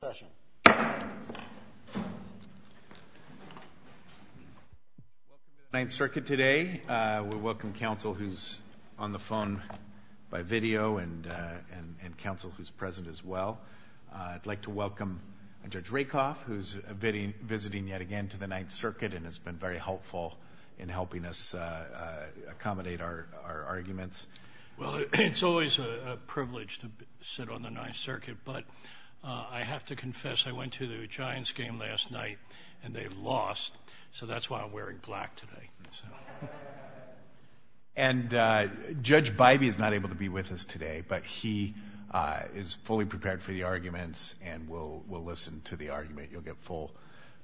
Welcome to the Ninth Circuit today. We welcome counsel who's on the phone by video and counsel who's present as well. I'd like to welcome Judge Rakoff, who's visiting yet again to the Ninth Circuit and has been very helpful in helping us accommodate our arguments. Judge Rakoff Well, it's always a privilege to sit on the Ninth Circuit, but I have to confess I went to the Giants game last night and they've lost, so that's why I'm wearing black today. Justice Breyer And Judge Bybee is not able to be with us today, but he is fully prepared for the arguments and will listen to the argument. You'll get full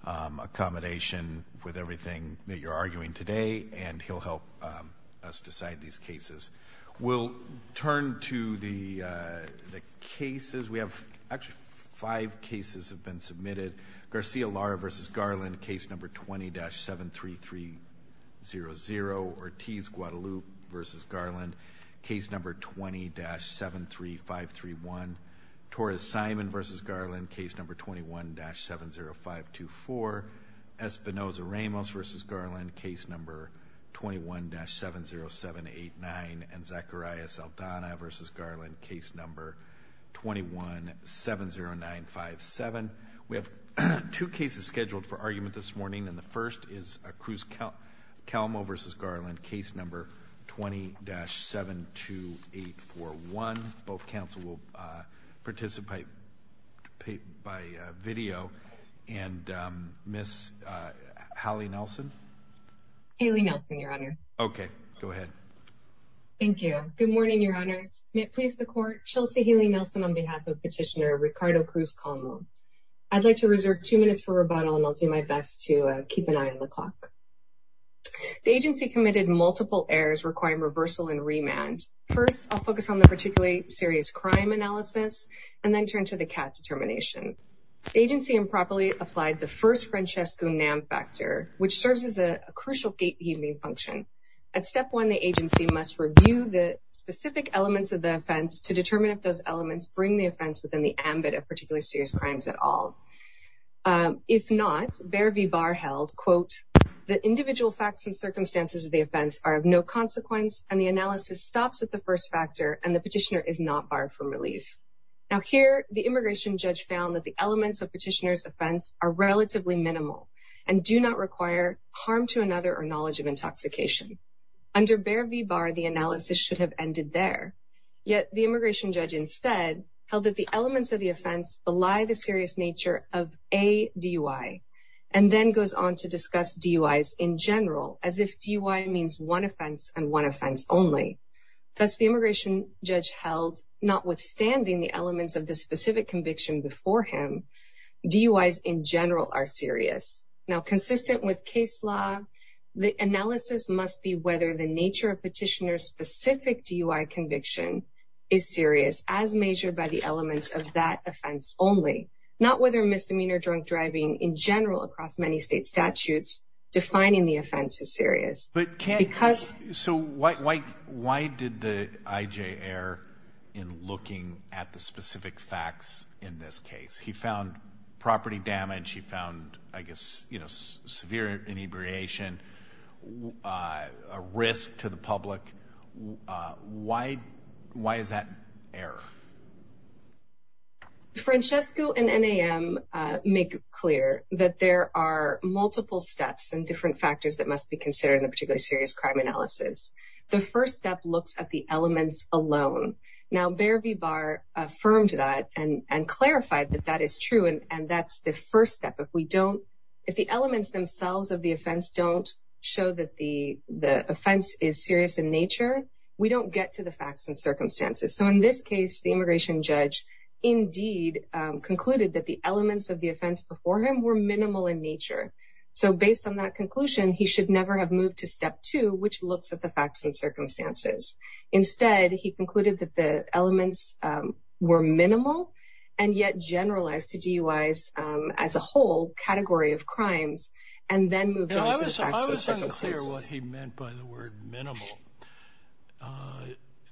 accommodation with everything that you're arguing today, and he'll help us decide these We'll turn to the cases. We have actually five cases have been submitted. Garcia-Lara v. Garland, case number 20-73300. Ortiz-Guadalupe v. Garland, case number 20-73531. Torres-Simon v. Garland, case number 21-70524. Espinoza-Ramos v. Garland, case number 21-70789. And Zacharias-Aldana v. Garland, case number 21-70957. We have two cases scheduled for argument this morning, and the first is Cruz-Calmo v. Garland, case number 20-72841. Both counsel will participate by video. And Ms. Hallie Nelson? Hallie Nelson, Your Honor. Okay, go ahead. Thank you. Good morning, Your Honors. May it please the Court, Chelsea Hallie Nelson on behalf of Petitioner Ricardo Cruz-Calmo. I'd like to reserve two minutes for rebuttal, and I'll do my best to keep an eye on the clock. The agency committed multiple errors requiring reversal and remand. First, I'll focus on the particularly serious crime analysis, and then turn to the CAT determination. The agency improperly applied the first Francesco-NAM factor, which serves as a crucial gatekeeping function. At step one, the agency must review the specific elements of the offense to determine if those elements bring the offense within the ambit of particularly serious crimes at all. If not, Behr v. Barr held, quote, the individual facts and circumstances of the offense are of no consequence, and the analysis stops at the first factor, and the petitioner is not barred from relief. Now here, the immigration judge found that the elements of petitioner's offense are relatively minimal and do not require harm to another or knowledge of intoxication. Under Behr v. Barr, the analysis should have ended there, yet the immigration judge instead held that the elements of the offense belie the serious nature of a DUI, and then goes on to discuss DUIs in general, as if DUI means one offense and one offense only. Thus, the immigration judge held, notwithstanding the elements of the specific conviction before him, DUIs in general are serious. Now, consistent with case law, the analysis must be whether the nature of petitioner's specific DUI conviction is serious as measured by the elements of that offense only, not whether misdemeanor drunk driving in general across many state statutes defining the offense is serious. So why did the IJ err in looking at the specific facts in this case? He found property damage. He found, I guess, severe inebriation, a risk to the public. Why is that error? Francesco and NAM make clear that there are multiple steps and different factors that must be considered in a particularly serious crime analysis. The first step looks at the elements alone. Now, Behr v. Barr affirmed that and clarified that that is true, and that's the first step. If the elements themselves of the offense don't show that the offense is serious in nature, we don't get to the facts and circumstances. So in this case, the immigration judge indeed concluded that the elements of the offense before him were minimal in nature. So based on that conclusion, he should never have moved to step two, which looks at the facts and circumstances. Instead, he concluded that the elements were minimal and yet generalized to DUIs as a whole category of crimes, and then moved on to the facts and circumstances. I was unclear what he meant by the word minimal.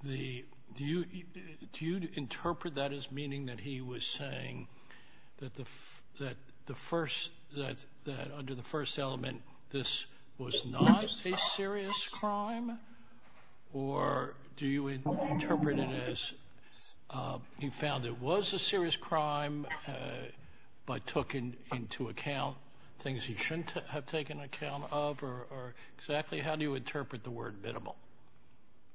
Do you interpret that as meaning that he was saying that under the first element, this was not a serious crime? Or do you interpret it as he found it was a serious crime but took into account things he shouldn't have taken account of? Or exactly how do you interpret the word minimal?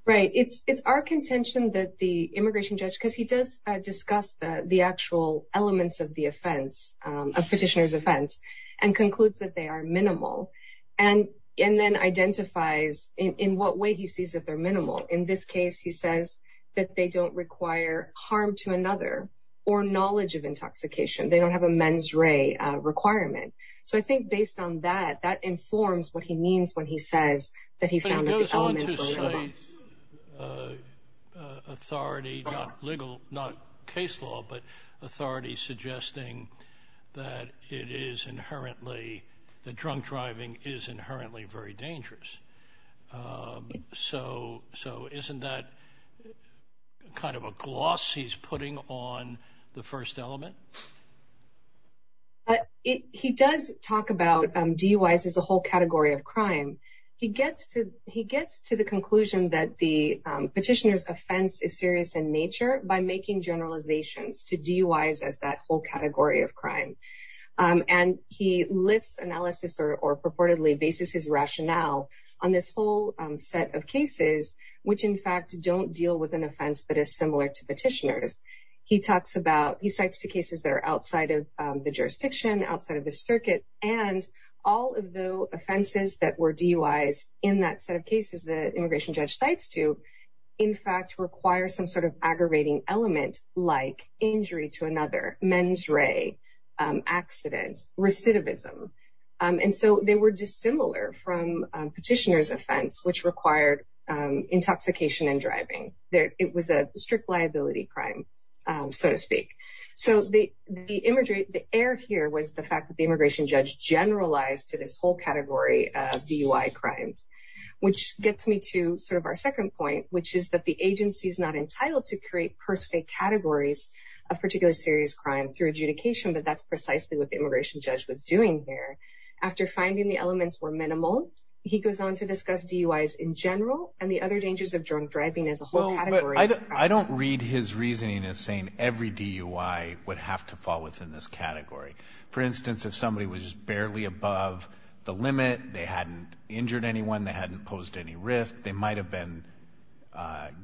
Right. It's our contention that the immigration judge, because he does discuss the actual elements of the offense, a petitioner's offense, and concludes that they are minimal, and then identifies in what way he sees that minimal. In this case, he says that they don't require harm to another or knowledge of intoxication. They don't have a mens re requirement. So I think based on that, that informs what he means when he says that he found that the elements were minimal. But it goes on to say authority, not legal, not case law, but authority suggesting that it is inherently, that drunk driving is inherently very dangerous. So isn't that kind of a gloss he's putting on the first element? He does talk about DUIs as a whole category of crime. He gets to the conclusion that the petitioner's offense is serious in nature by making generalizations to DUIs as that whole analysis or purportedly basis his rationale on this whole set of cases, which in fact, don't deal with an offense that is similar to petitioners. He talks about he cites two cases that are outside of the jurisdiction outside of the circuit. And all of the offenses that were DUIs in that set of cases that immigration judge sites to, in fact, require some sort of aggravating element like injury to another, mens re, accident, recidivism. And so they were dissimilar from petitioner's offense, which required intoxication and driving. It was a strict liability crime, so to speak. So the air here was the fact that the immigration judge generalized to this whole category of DUI crimes, which gets me to sort of our second point, which is that the categories of particular serious crime through adjudication, but that's precisely what the immigration judge was doing there. After finding the elements were minimal, he goes on to discuss DUIs in general and the other dangers of drunk driving as a whole. I don't read his reasoning as saying every DUI would have to fall within this category. For instance, if somebody was barely above the limit, they hadn't injured anyone, they hadn't posed any risk, they might have been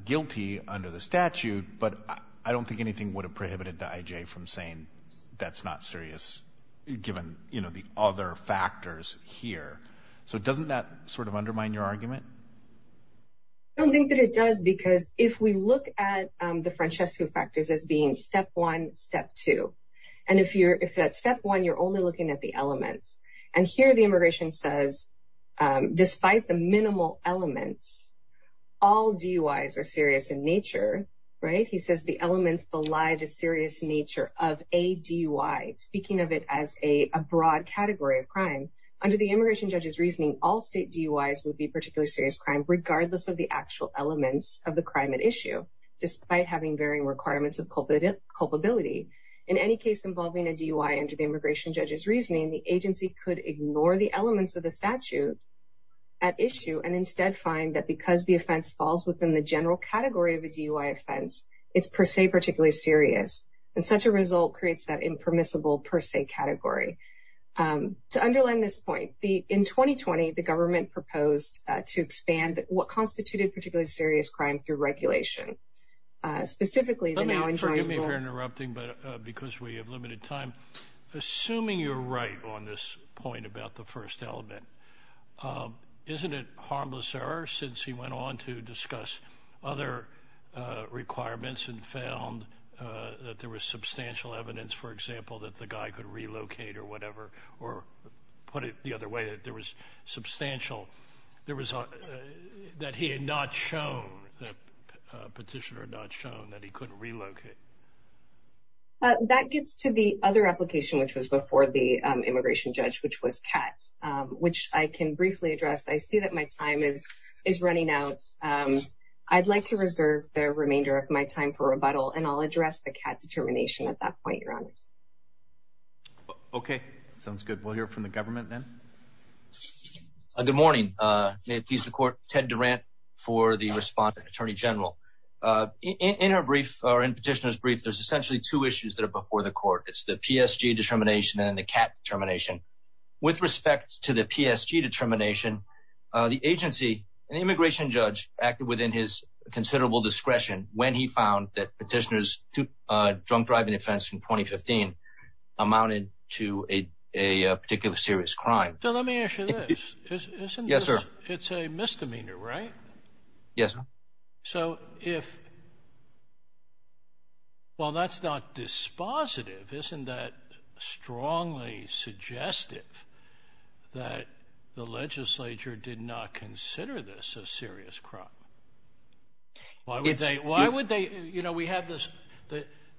guilty under the statute, but I don't think anything would have prohibited the I.J. from saying that's not serious given the other factors here. So doesn't that sort of undermine your argument? I don't think that it does because if we look at the Francesco factors as being step one, step two, and if that's step one, you're only looking at the elements. And here the immigration says despite the minimal elements, all DUIs are serious in nature, right? He says the elements belie the serious nature of a DUI, speaking of it as a broad category of crime. Under the immigration judge's reasoning, all state DUIs would be particularly serious crime regardless of the actual elements of the crime at issue, despite having varying requirements of culpability. In any case involving a DUI under the immigration judge's reasoning, the agency could ignore the elements of the statute at issue and instead find that because the offense falls within the general category of a DUI offense, it's per se particularly serious. And such a result creates that impermissible per se category. To underline this point, in 2020, the government proposed to expand what constituted particularly serious crime through regulation. Specifically, the now enjoyable- Forgive me for interrupting, but because we have limited time, assuming you're right on this point about the first element, isn't it harmless error since he went on to discuss other requirements and found that there was substantial evidence, for example, that the guy could relocate or whatever, or put it the other way, that there was substantial, that he had not shown, the petitioner had not shown that he couldn't relocate? That gets to the other application, which was before the immigration judge, which was CAT, which I can briefly address. I see that my time is running out. I'd like to reserve the remainder of my time for rebuttal, and I'll address the CAT determination at that point, your honor. Okay, sounds good. We'll hear from the government then. Good morning. May it please the court, Ted Durant for the respondent attorney general. In her brief, or in petitioner's brief, there's essentially two issues that are before the court. It's the PSG determination and the CAT determination. With respect to the PSG determination, the agency, an immigration judge, acted within his considerable discretion when he found that petitioner's drunk driving offense in 2015 amounted to a particular serious crime. So let me ask you this. Yes, sir. It's a misdemeanor, right? Yes, sir. So if, well, that's not dispositive, isn't that strongly suggestive that the legislature did not consider this a serious crime? Why would they, you know, we have this,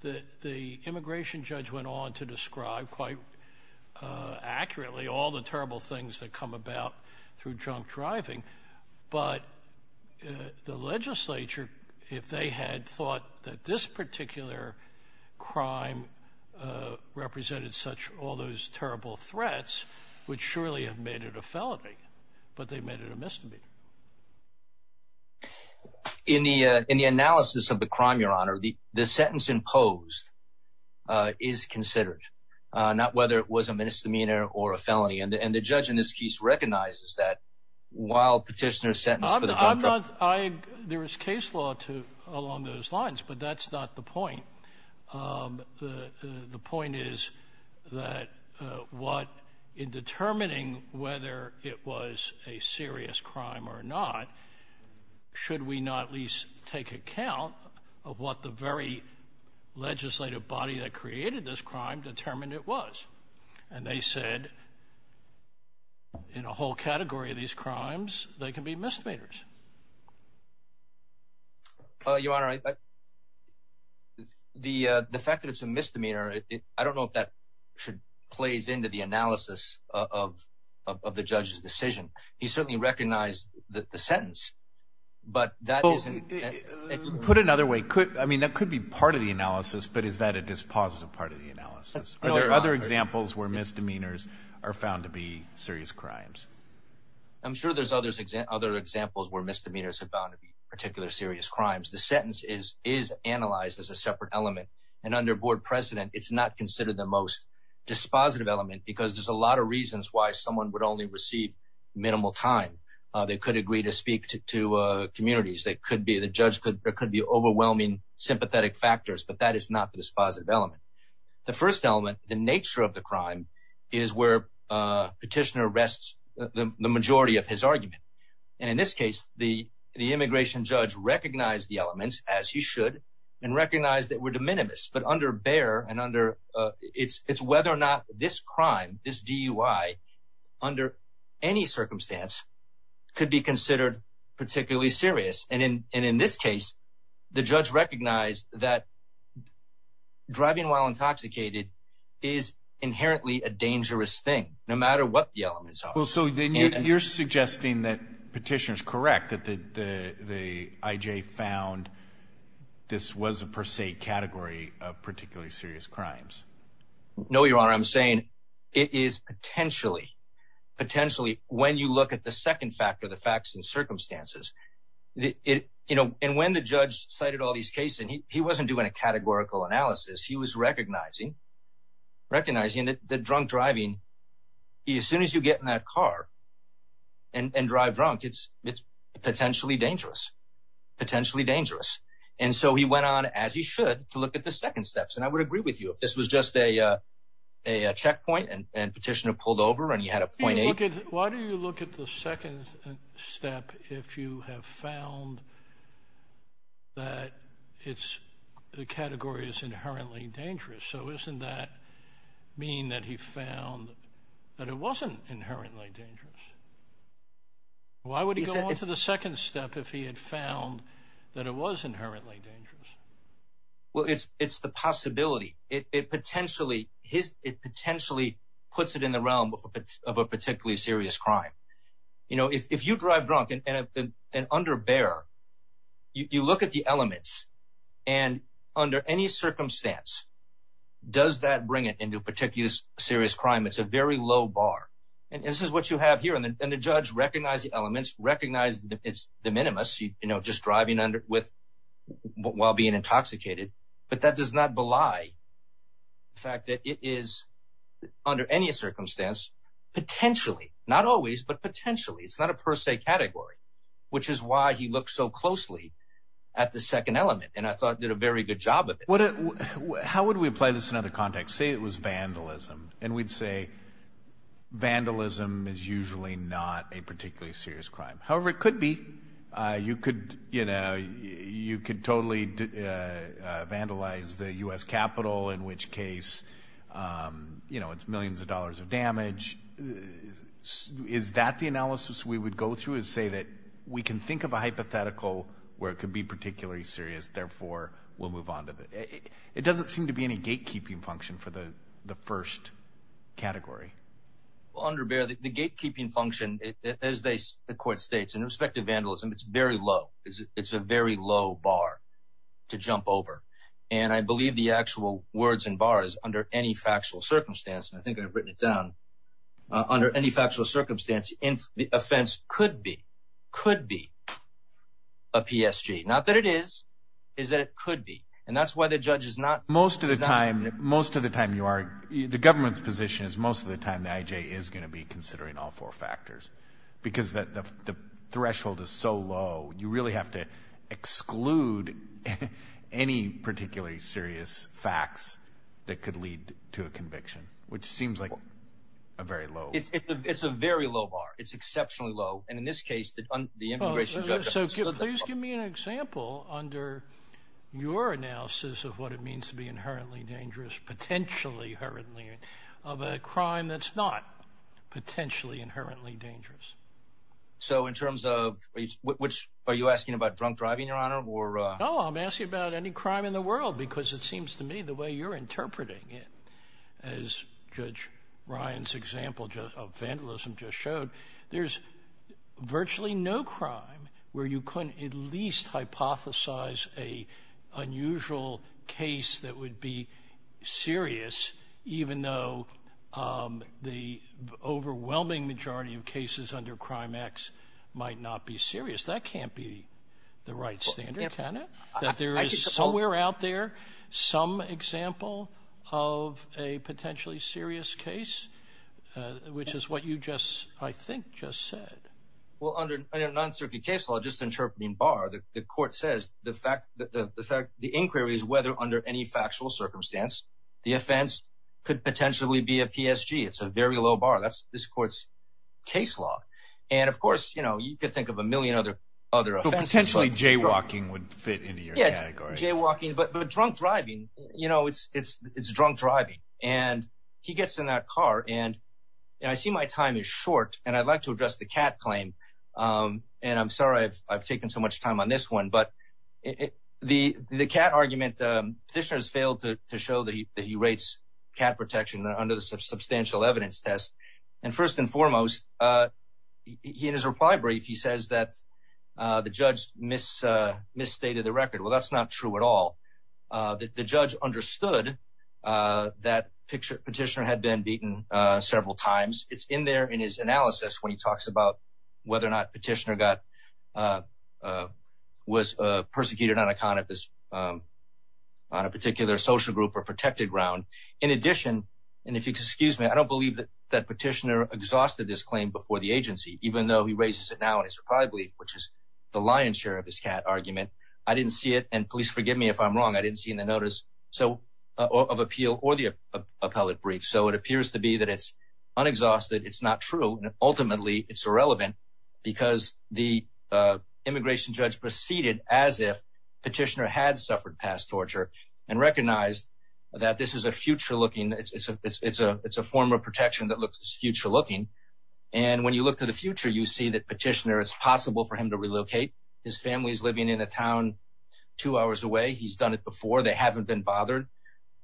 the immigration judge went on to describe quite accurately all the terrible things that come about through drunk driving, but the legislature, if they had thought that this particular crime represented such all those terrible threats, would surely have made it a felony, but they made it a misdemeanor. In the analysis of the crime, your honor, the sentence imposed is considered, not whether it was a misdemeanor or a felony. And the judge in this case recognizes that while petitioner's I'm not, I, there is case law to along those lines, but that's not the point. The point is that what in determining whether it was a serious crime or not, should we not at least take account of what the very legislative body that created this crime determined it was. And they said in a whole category of these crimes, they can be misdemeanors. Uh, your honor, the, uh, the fact that it's a misdemeanor, I don't know if that should plays into the analysis of, of, of the judge's decision. He certainly recognized that the sentence, but that isn't put another way. I mean, that could be part of the analysis, but is that a dispositive part of the analysis? Are there other examples where misdemeanors are found to be serious crimes? I'm sure there's others, other examples where misdemeanors have bound to be particular serious crimes. The sentence is, is analyzed as a separate element and under board precedent, it's not considered the most dispositive element because there's a lot of reasons why someone would only receive minimal time. Uh, they could agree to speak to, to, uh, communities that could be the judge could, there could be overwhelming sympathetic factors, but that is not the dispositive element. The first element, the nature of the crime is where a petitioner rests the majority of his argument. And in this case, the, the immigration judge recognized the elements as you should and recognize that we're de minimis, but under bear and under, uh, it's, it's whether or not this crime is DUI under any circumstance could be considered particularly serious. And in, and in this case, the judge recognized that driving while intoxicated is inherently a dangerous thing, no matter what the elements are. Well, so then you're suggesting that petitioners correct that the, the, the IJ found this was a per se category of particularly serious crimes. No, your honor. I'm saying it is potentially, potentially when you look at the second factor, the facts and circumstances, it, you know, and when the judge cited all these cases, he wasn't doing a categorical analysis. He was recognizing, recognizing that the drunk driving, as soon as you get in that car and drive drunk, it's, it's potentially dangerous, potentially dangerous. And so he went on as he should to look at the second steps. And I would agree with you if this was just a, uh, a checkpoint and petitioner pulled over and Why do you look at the second step? If you have found that it's the category is inherently dangerous. So isn't that mean that he found that it wasn't inherently dangerous? Why would he go on to the second step if he had found that it was inherently dangerous? Well, it's, it's the possibility it, it potentially his, it potentially puts it in realm of a, of a particularly serious crime. You know, if, if you drive drunk and under bear, you look at the elements and under any circumstance, does that bring it into particular serious crime? It's a very low bar. And this is what you have here. And then the judge recognize the elements recognize that it's the minimus, you know, just driving under with while being intoxicated, but that does not belie the fact that it is under any circumstance, potentially, not always, but potentially it's not a per se category, which is why he looked so closely at the second element. And I thought did a very good job of it. How would we apply this in other contexts? Say it was vandalism and we'd say vandalism is usually not a particularly serious crime. However, it could be, you could, you know, you could totally vandalize the U.S. Capitol, in which case, you know, it's millions of dollars of damage. Is that the analysis we would go through is say that we can think of a hypothetical where it could be particularly serious. Therefore, we'll move on to the, it doesn't seem to be any gatekeeping function for the, the first category. Under bare, the gatekeeping function, as they, the court states in respect to vandalism, it's very low. It's a very low bar to jump over. And I believe the actual words and bars under any factual circumstance. And I think I've written it down under any factual circumstance in the offense could be, could be a PSG. Not that it is, is that it could be. And that's why the judge is not. Most of the time, most of the time you are, the government's position is most of the time, the IJ is going to be considering all four factors. Because the threshold is so low, you really have to exclude any particularly serious facts that could lead to a conviction, which seems like a very low. It's a very low bar. It's exceptionally low. And in this case, the immigration judge. So please give me an example under your analysis of what it means to be inherently dangerous, potentially hurriedly of a crime that's not potentially inherently dangerous. So in terms of which, are you asking about drunk driving your honor or? Oh, I'm asking about any crime in the world, because it seems to me the way you're interpreting it, as Judge Ryan's example of vandalism just showed, there's virtually no crime where you couldn't at least hypothesize a unusual case that would be serious, even though the overwhelming majority of cases under Crime X might not be serious. That can't be the right standard, can it? That there is somewhere out there some example of a potentially serious case, which is what you just, I think, just said. Well, under non-circuit case law, just interpreting bar, the court says the fact that the fact the inquiry is whether under any factual circumstance, the offense could potentially be a PSG. It's a very low bar. That's this court's case law. And of course, you know, you could think of a million other offenses. Potentially jaywalking would fit into your category. Jaywalking, but drunk driving, you know, it's drunk driving. And he gets in that car and I see my time is short and I'd like to address the cat claim. And I'm sorry I've taken so much time on this one. But the cat argument, petitioners failed to show that he rates cat protection under the substantial evidence test. And first and foremost, in his reply brief, he says that the judge misstated the record. Well, that's not true at all. The judge understood that petitioner had been beaten several times. It's in there in his analysis when he talks about whether or not petitioner was persecuted on a particular social group or protected ground. In addition, and if you excuse me, I don't believe that petitioner exhausted this claim before the agency, even though he raises it now in his reply brief, which is the lion's share of his cat argument. I didn't see it. And please forgive me if I'm wrong. I didn't see in the notice of appeal or the appellate brief. So it appears to be that it's unexhausted. It's not true. And ultimately it's irrelevant because the immigration judge proceeded as if petitioner had suffered past torture and recognized that this is a future looking, it's a form of protection that is future looking. And when you look to the future, you see that petitioner, it's possible for him to relocate. His family's living in a town two hours away. He's done it before. They haven't been bothered.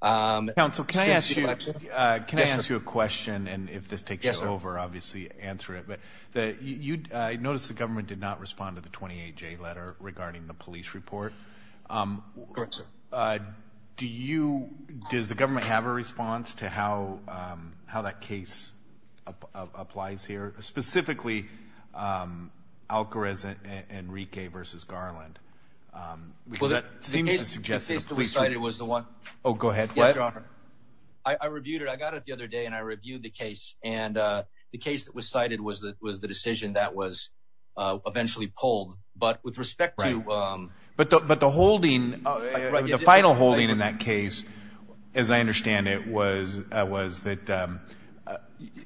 Counsel, can I ask you, can I ask you a question? And if this takes over, obviously answer it. But you notice the government did not respond to the 28 J letter regarding the applies here specifically, um, Alcarez and Rike versus Garland. Um, well, that seems to suggest that it was the one. Oh, go ahead. I reviewed it. I got it the other day and I reviewed the case. And, uh, the case that was cited was that was the decision that was, uh, eventually pulled. But with respect to, um, but the, but the holding the final holding in that case, as I understand it was, uh, was that, um, uh,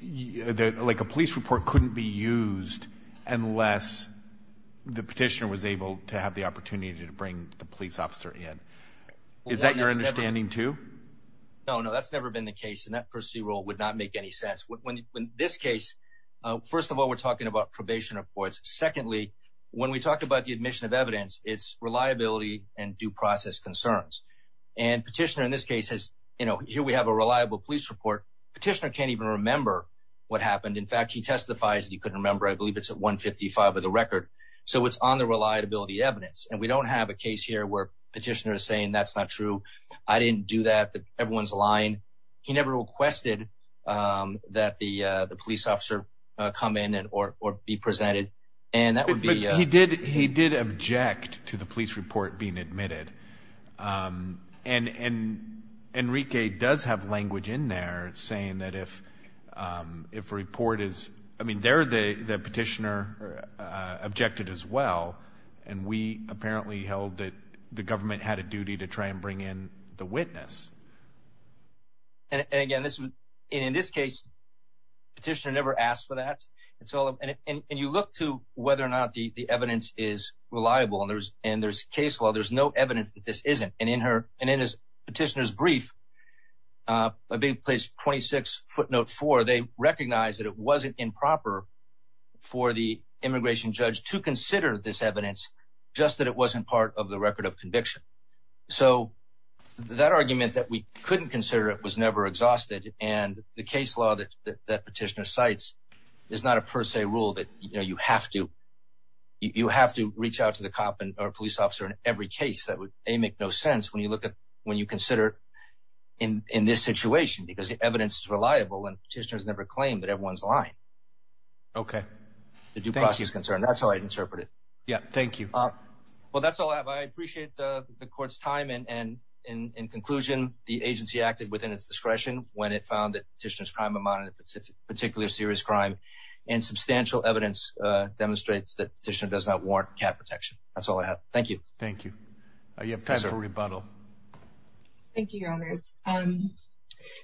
like a police report couldn't be used unless the petitioner was able to have the opportunity to bring the police officer in. Is that your understanding too? No, no, that's never been the case. And that per se role would not make any sense when, when this case, uh, first of all, we're talking about probation reports. Secondly, when we talk about the admission of evidence, it's reliability and due process concerns. And petitioner in this case has, you know, here we have a reliable police report. Petitioner can't even remember what happened. In fact, he testifies that he couldn't remember. I believe it's at one 55 of the record. So it's on the reliability evidence. And we don't have a case here where petitioner is saying that's not true. I didn't do that. Everyone's lying. He never requested, um, that the, uh, the police officer, uh, come in and, or, or be presented. And that would be, he did, he did object to the police report being admitted. Um, and, and Enrique does have language in there saying that if, um, if report is, I mean, they're the, the petitioner, uh, objected as well. And we apparently held that the government had a duty to try and bring in the witness. And again, this was in this case, petitioner never asked for that. It's all. And you look to whether or not the evidence is reliable and there's, and there's case law, there's no evidence that this isn't. And in her, and in his petitioner's brief, uh, a big place, 26 footnote four, they recognize that it wasn't improper for the immigration judge to consider this evidence just that it wasn't part of the record of conviction. So that argument that we couldn't consider it was never exhausted. And the case law that, that petitioner cites is not a per se rule that, you know, you have to, you have to reach out to the cop or police officer in every case that would make no sense. When you look at, when you consider in this situation, because the evidence is reliable and petitioners never claimed that everyone's lying. Okay. The due process is concerned. That's how I'd interpret it. Yeah. Thank you. Well, that's all I have. I appreciate the court's time and, and, and, and conclusion, the agency acted within its discretion when it found that petitioner's crime amounted to particular serious crime and substantial evidence, uh, demonstrates that petitioner does not warrant cat protection. That's all I have. Thank you. Thank you. Uh, you have time for rebuttal. Thank you, your honors. Um,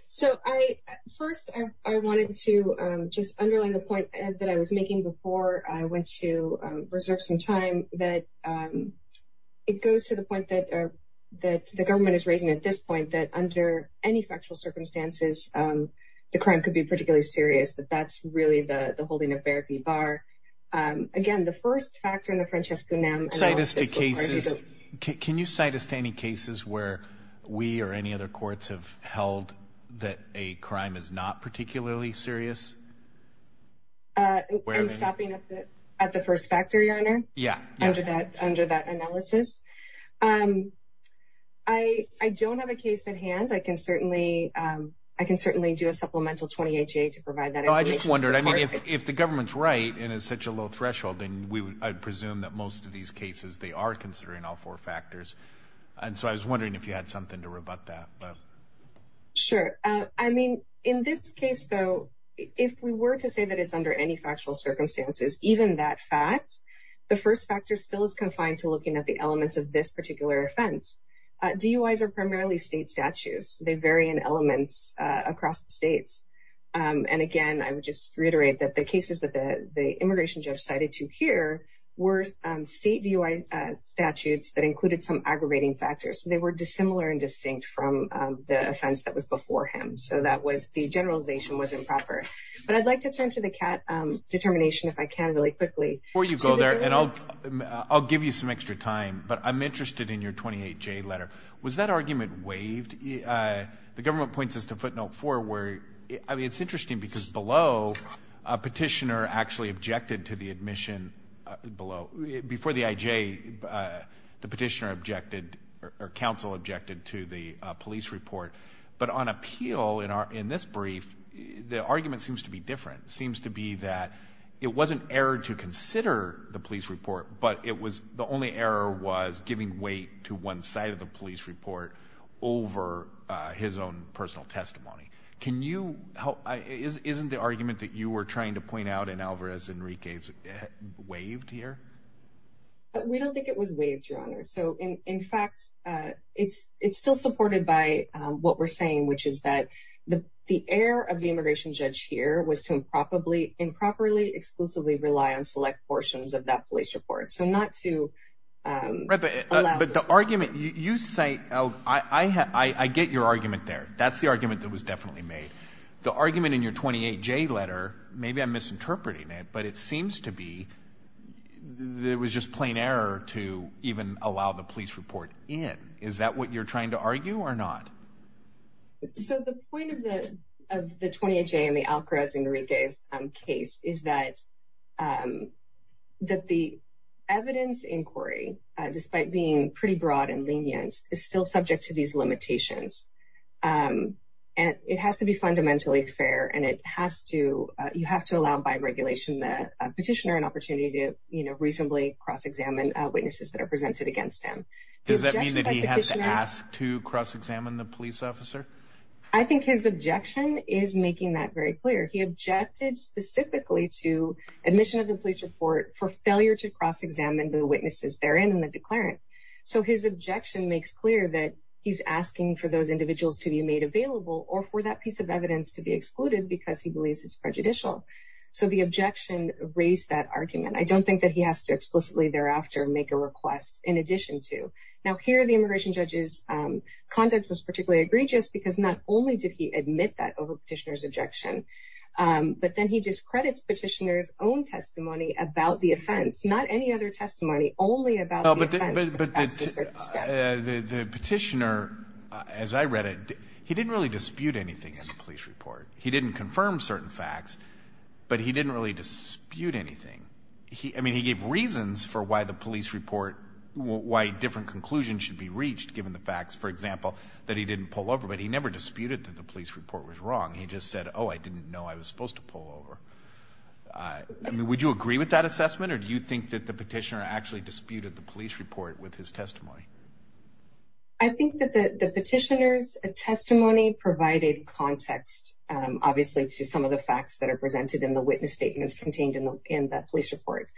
so I, first I, I wanted to, um, just underline the point that I was making before I went to reserve some time that, um, it goes to the point that, uh, that the government is raising at this point that under any factual circumstances, um, the crime could be particularly serious, that that's really the, the holding of therapy bar. Um, again, the first factor in the Francesco, can you cite us to any cases where we or any other courts have held that a crime is not under that analysis? Um, I, I don't have a case at hand. I can certainly, um, I can certainly do a supplemental 28 to provide that. I just wondered, I mean, if, if the government's right, and it's such a low threshold, then we would, I presume that most of these cases, they are considering all four factors. And so I was wondering if you had something to rebut that. Sure. Uh, I mean, in this case though, if we were to say that it's under any factual circumstances, even that fact, the first factor still is confined to looking at the elements of this particular offense. Uh, DUIs are primarily state statutes. They vary in elements, uh, across the states. Um, and again, I would just reiterate that the cases that the, the immigration judge cited to here were, um, state DUI, uh, statutes that included some aggravating factors. They were dissimilar and distinct from, um, the offense that was before him. So that was the generalization was improper, but I'd like to turn to the CAT, um, determination if I can really quickly. Before you go there and I'll, I'll give you some extra time, but I'm interested in your 28J letter. Was that argument waived? Uh, the government points us to footnote four where, I mean, it's interesting because below a petitioner actually objected to the admission below, before the IJ, uh, the petitioner objected or counsel objected to the police report, but on appeal in our, in this brief, the argument seems to be different. It seems to be that it wasn't error to consider the police report, but it was the only error was giving weight to one side of the police report over, uh, his own personal testimony. Can you help? Isn't the argument that you were trying to point out in Alvarez Enrique's waived here? We don't think it was waived, your honor. So in, in fact, uh, it's, it's still supported by, um, what we're saying, which is that the, the air of the immigration judge here was to improperly, improperly exclusively rely on select portions of that police report. So not to, um, but the argument you say, oh, I, I, I, I get your argument there. That's the argument that was definitely made the argument in your 28J letter. Maybe I'm misinterpreting it, but it was just plain error to even allow the police report in. Is that what you're trying to argue or not? So the point of the, of the 28J and the Alvarez Enrique's case is that, um, that the evidence inquiry, uh, despite being pretty broad and lenient is still subject to these limitations. Um, and it has to be fundamentally fair and it has to, uh, you have to allow by regulation, the petitioner, an opportunity to reasonably cross-examine witnesses that are presented against him. Does that mean that he has to ask to cross-examine the police officer? I think his objection is making that very clear. He objected specifically to admission of the police report for failure to cross-examine the witnesses they're in, in the declarant. So his objection makes clear that he's asking for those individuals to be made available or for that piece of evidence to be excluded because he believes it's prejudicial. So the objection raised that argument. I don't think that he has to explicitly thereafter make a request in addition to now here, the immigration judge's, um, conduct was particularly egregious because not only did he admit that over petitioner's objection, um, but then he discredits petitioner's own testimony about the offense, not any other testimony only about the offense. But the petitioner, as I read it, he didn't really dispute anything in the police report. He didn't confirm certain facts, but he didn't really dispute anything. He, I mean, he gave reasons for why the police report, why different conclusions should be reached given the facts, for example, that he didn't pull over, but he never disputed that the police report was wrong. He just said, oh, I didn't know I was supposed to pull over. I mean, would you agree with that assessment or do you think that the petitioner actually disputed the police report with his obviously to some of the facts that are presented in the witness statements contained in the police report,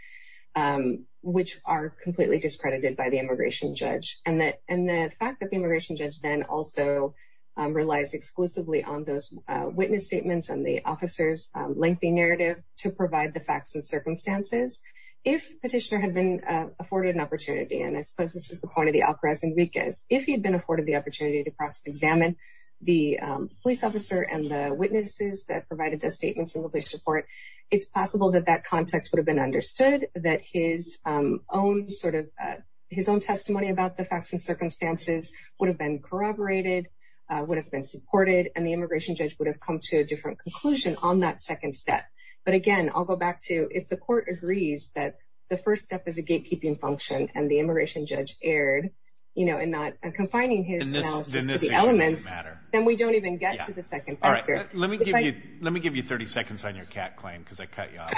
um, which are completely discredited by the immigration judge and that, and the fact that the immigration judge then also, um, relies exclusively on those witness statements and the officer's lengthy narrative to provide the facts and circumstances. If petitioner had been, uh, afforded an opportunity, and I suppose this is the point of the opera as Enriquez, if he had been afforded the opportunity to cross examine the, um, police officer and the witnesses that provided those statements in the police report, it's possible that that context would have been understood that his, um, own sort of, uh, his own testimony about the facts and circumstances would have been corroborated, uh, would have been supported and the immigration judge would have come to a different conclusion on that second step. But again, I'll go back to, if the court agrees that the first step is a gatekeeping function and the immigration judge erred, you know, and not confining his analysis to the elements, then we don't even get to the second factor. Let me give you, let me give you 30 seconds on your cat claim because I cut you off.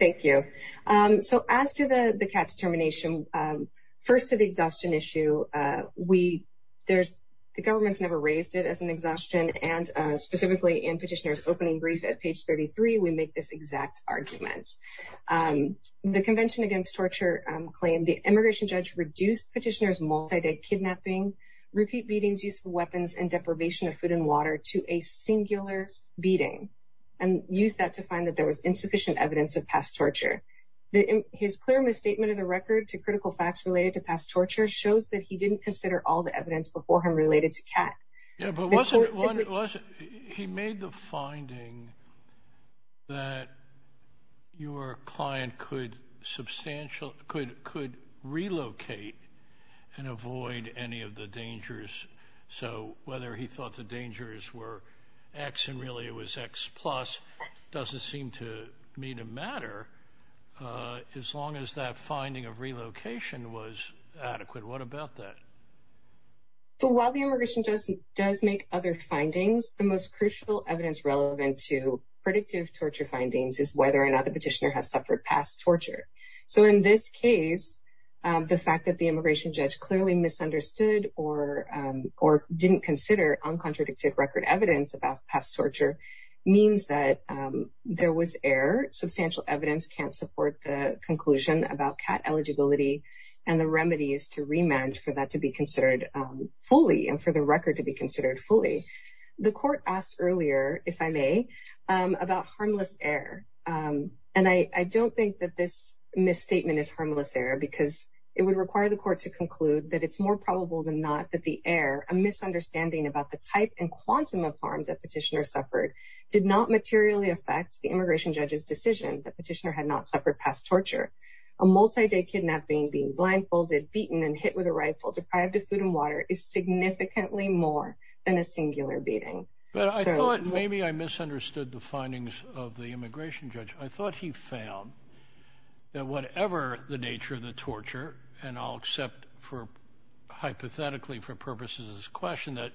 Thank you. Um, so as to the, the cat's termination, um, first to the exhaustion issue, uh, we, there's, the government's never raised it as an exhaustion and, uh, specifically in petitioner's opening brief at page 33, we make this exact argument. Um, the convention against torture, um, claim the immigration judge reduced petitioner's multi-day kidnapping, repeat beatings, use of weapons and deprivation of food and water to a singular beating and use that to find that there was insufficient evidence of past torture. The, his clear misstatement of the record to critical facts related to past torture shows that he didn't consider all the evidence before him related to cat. Yeah, but wasn't, he made the finding that your client could substantial, could, could relocate and avoid any of the dangers. So whether he thought the dangers were X and really it was X plus doesn't seem to me to matter, uh, as long as that finding of relocation was adequate. What about that? So while the immigration judge does make other findings, the most crucial evidence relevant to predictive torture findings is whether or not petitioner has suffered past torture. So in this case, um, the fact that the immigration judge clearly misunderstood or, um, or didn't consider uncontradicted record evidence about past torture means that, um, there was air substantial evidence can't support the conclusion about cat eligibility and the remedies to remand for that to be considered, um, fully and for the I don't think that this misstatement is harmless error because it would require the court to conclude that it's more probable than not that the air, a misunderstanding about the type and quantum of harm that petitioner suffered did not materially affect the immigration judge's decision that petitioner had not suffered past torture. A multi-day kidnapping, being blindfolded, beaten and hit with a rifle, deprived of food and water is significantly more than a singular beating. But I thought maybe I misunderstood the findings of the immigration judge. I thought he found that whatever the nature of the torture and I'll accept for hypothetically for purposes of this question that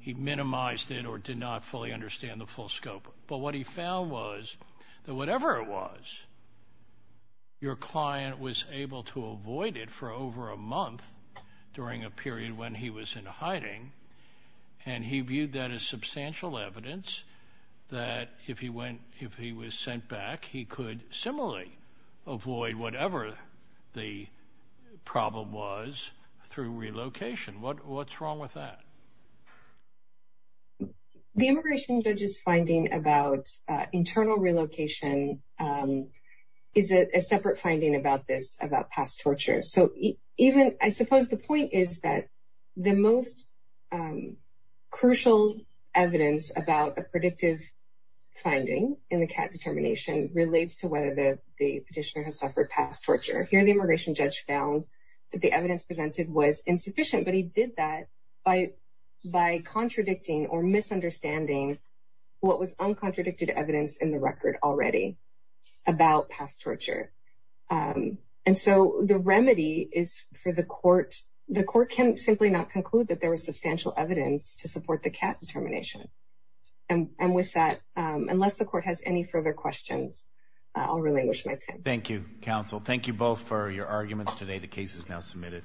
he minimized it or did not fully understand the full scope. But what he found was that whatever it was, your client was able to avoid it for over a month during a period when he was in hiding and he viewed that as substantial evidence that if he went, if he was sent back, he could similarly avoid whatever the problem was through relocation. What, what's wrong with that? The immigration judge's finding about internal relocation, um, is a separate finding about this, about past torture. So even, I suppose the point is that the most, um, crucial evidence about a predictive finding in the CAT determination relates to whether the, the petitioner has suffered past torture. Here, the immigration judge found that the evidence presented was insufficient, but he did that by, by contradicting or misunderstanding what was um, and so the remedy is for the court. The court can simply not conclude that there was substantial evidence to support the CAT determination. And with that, unless the court has any further questions, I'll relinquish my time. Thank you, counsel. Thank you both for your arguments today. The case is now submitted.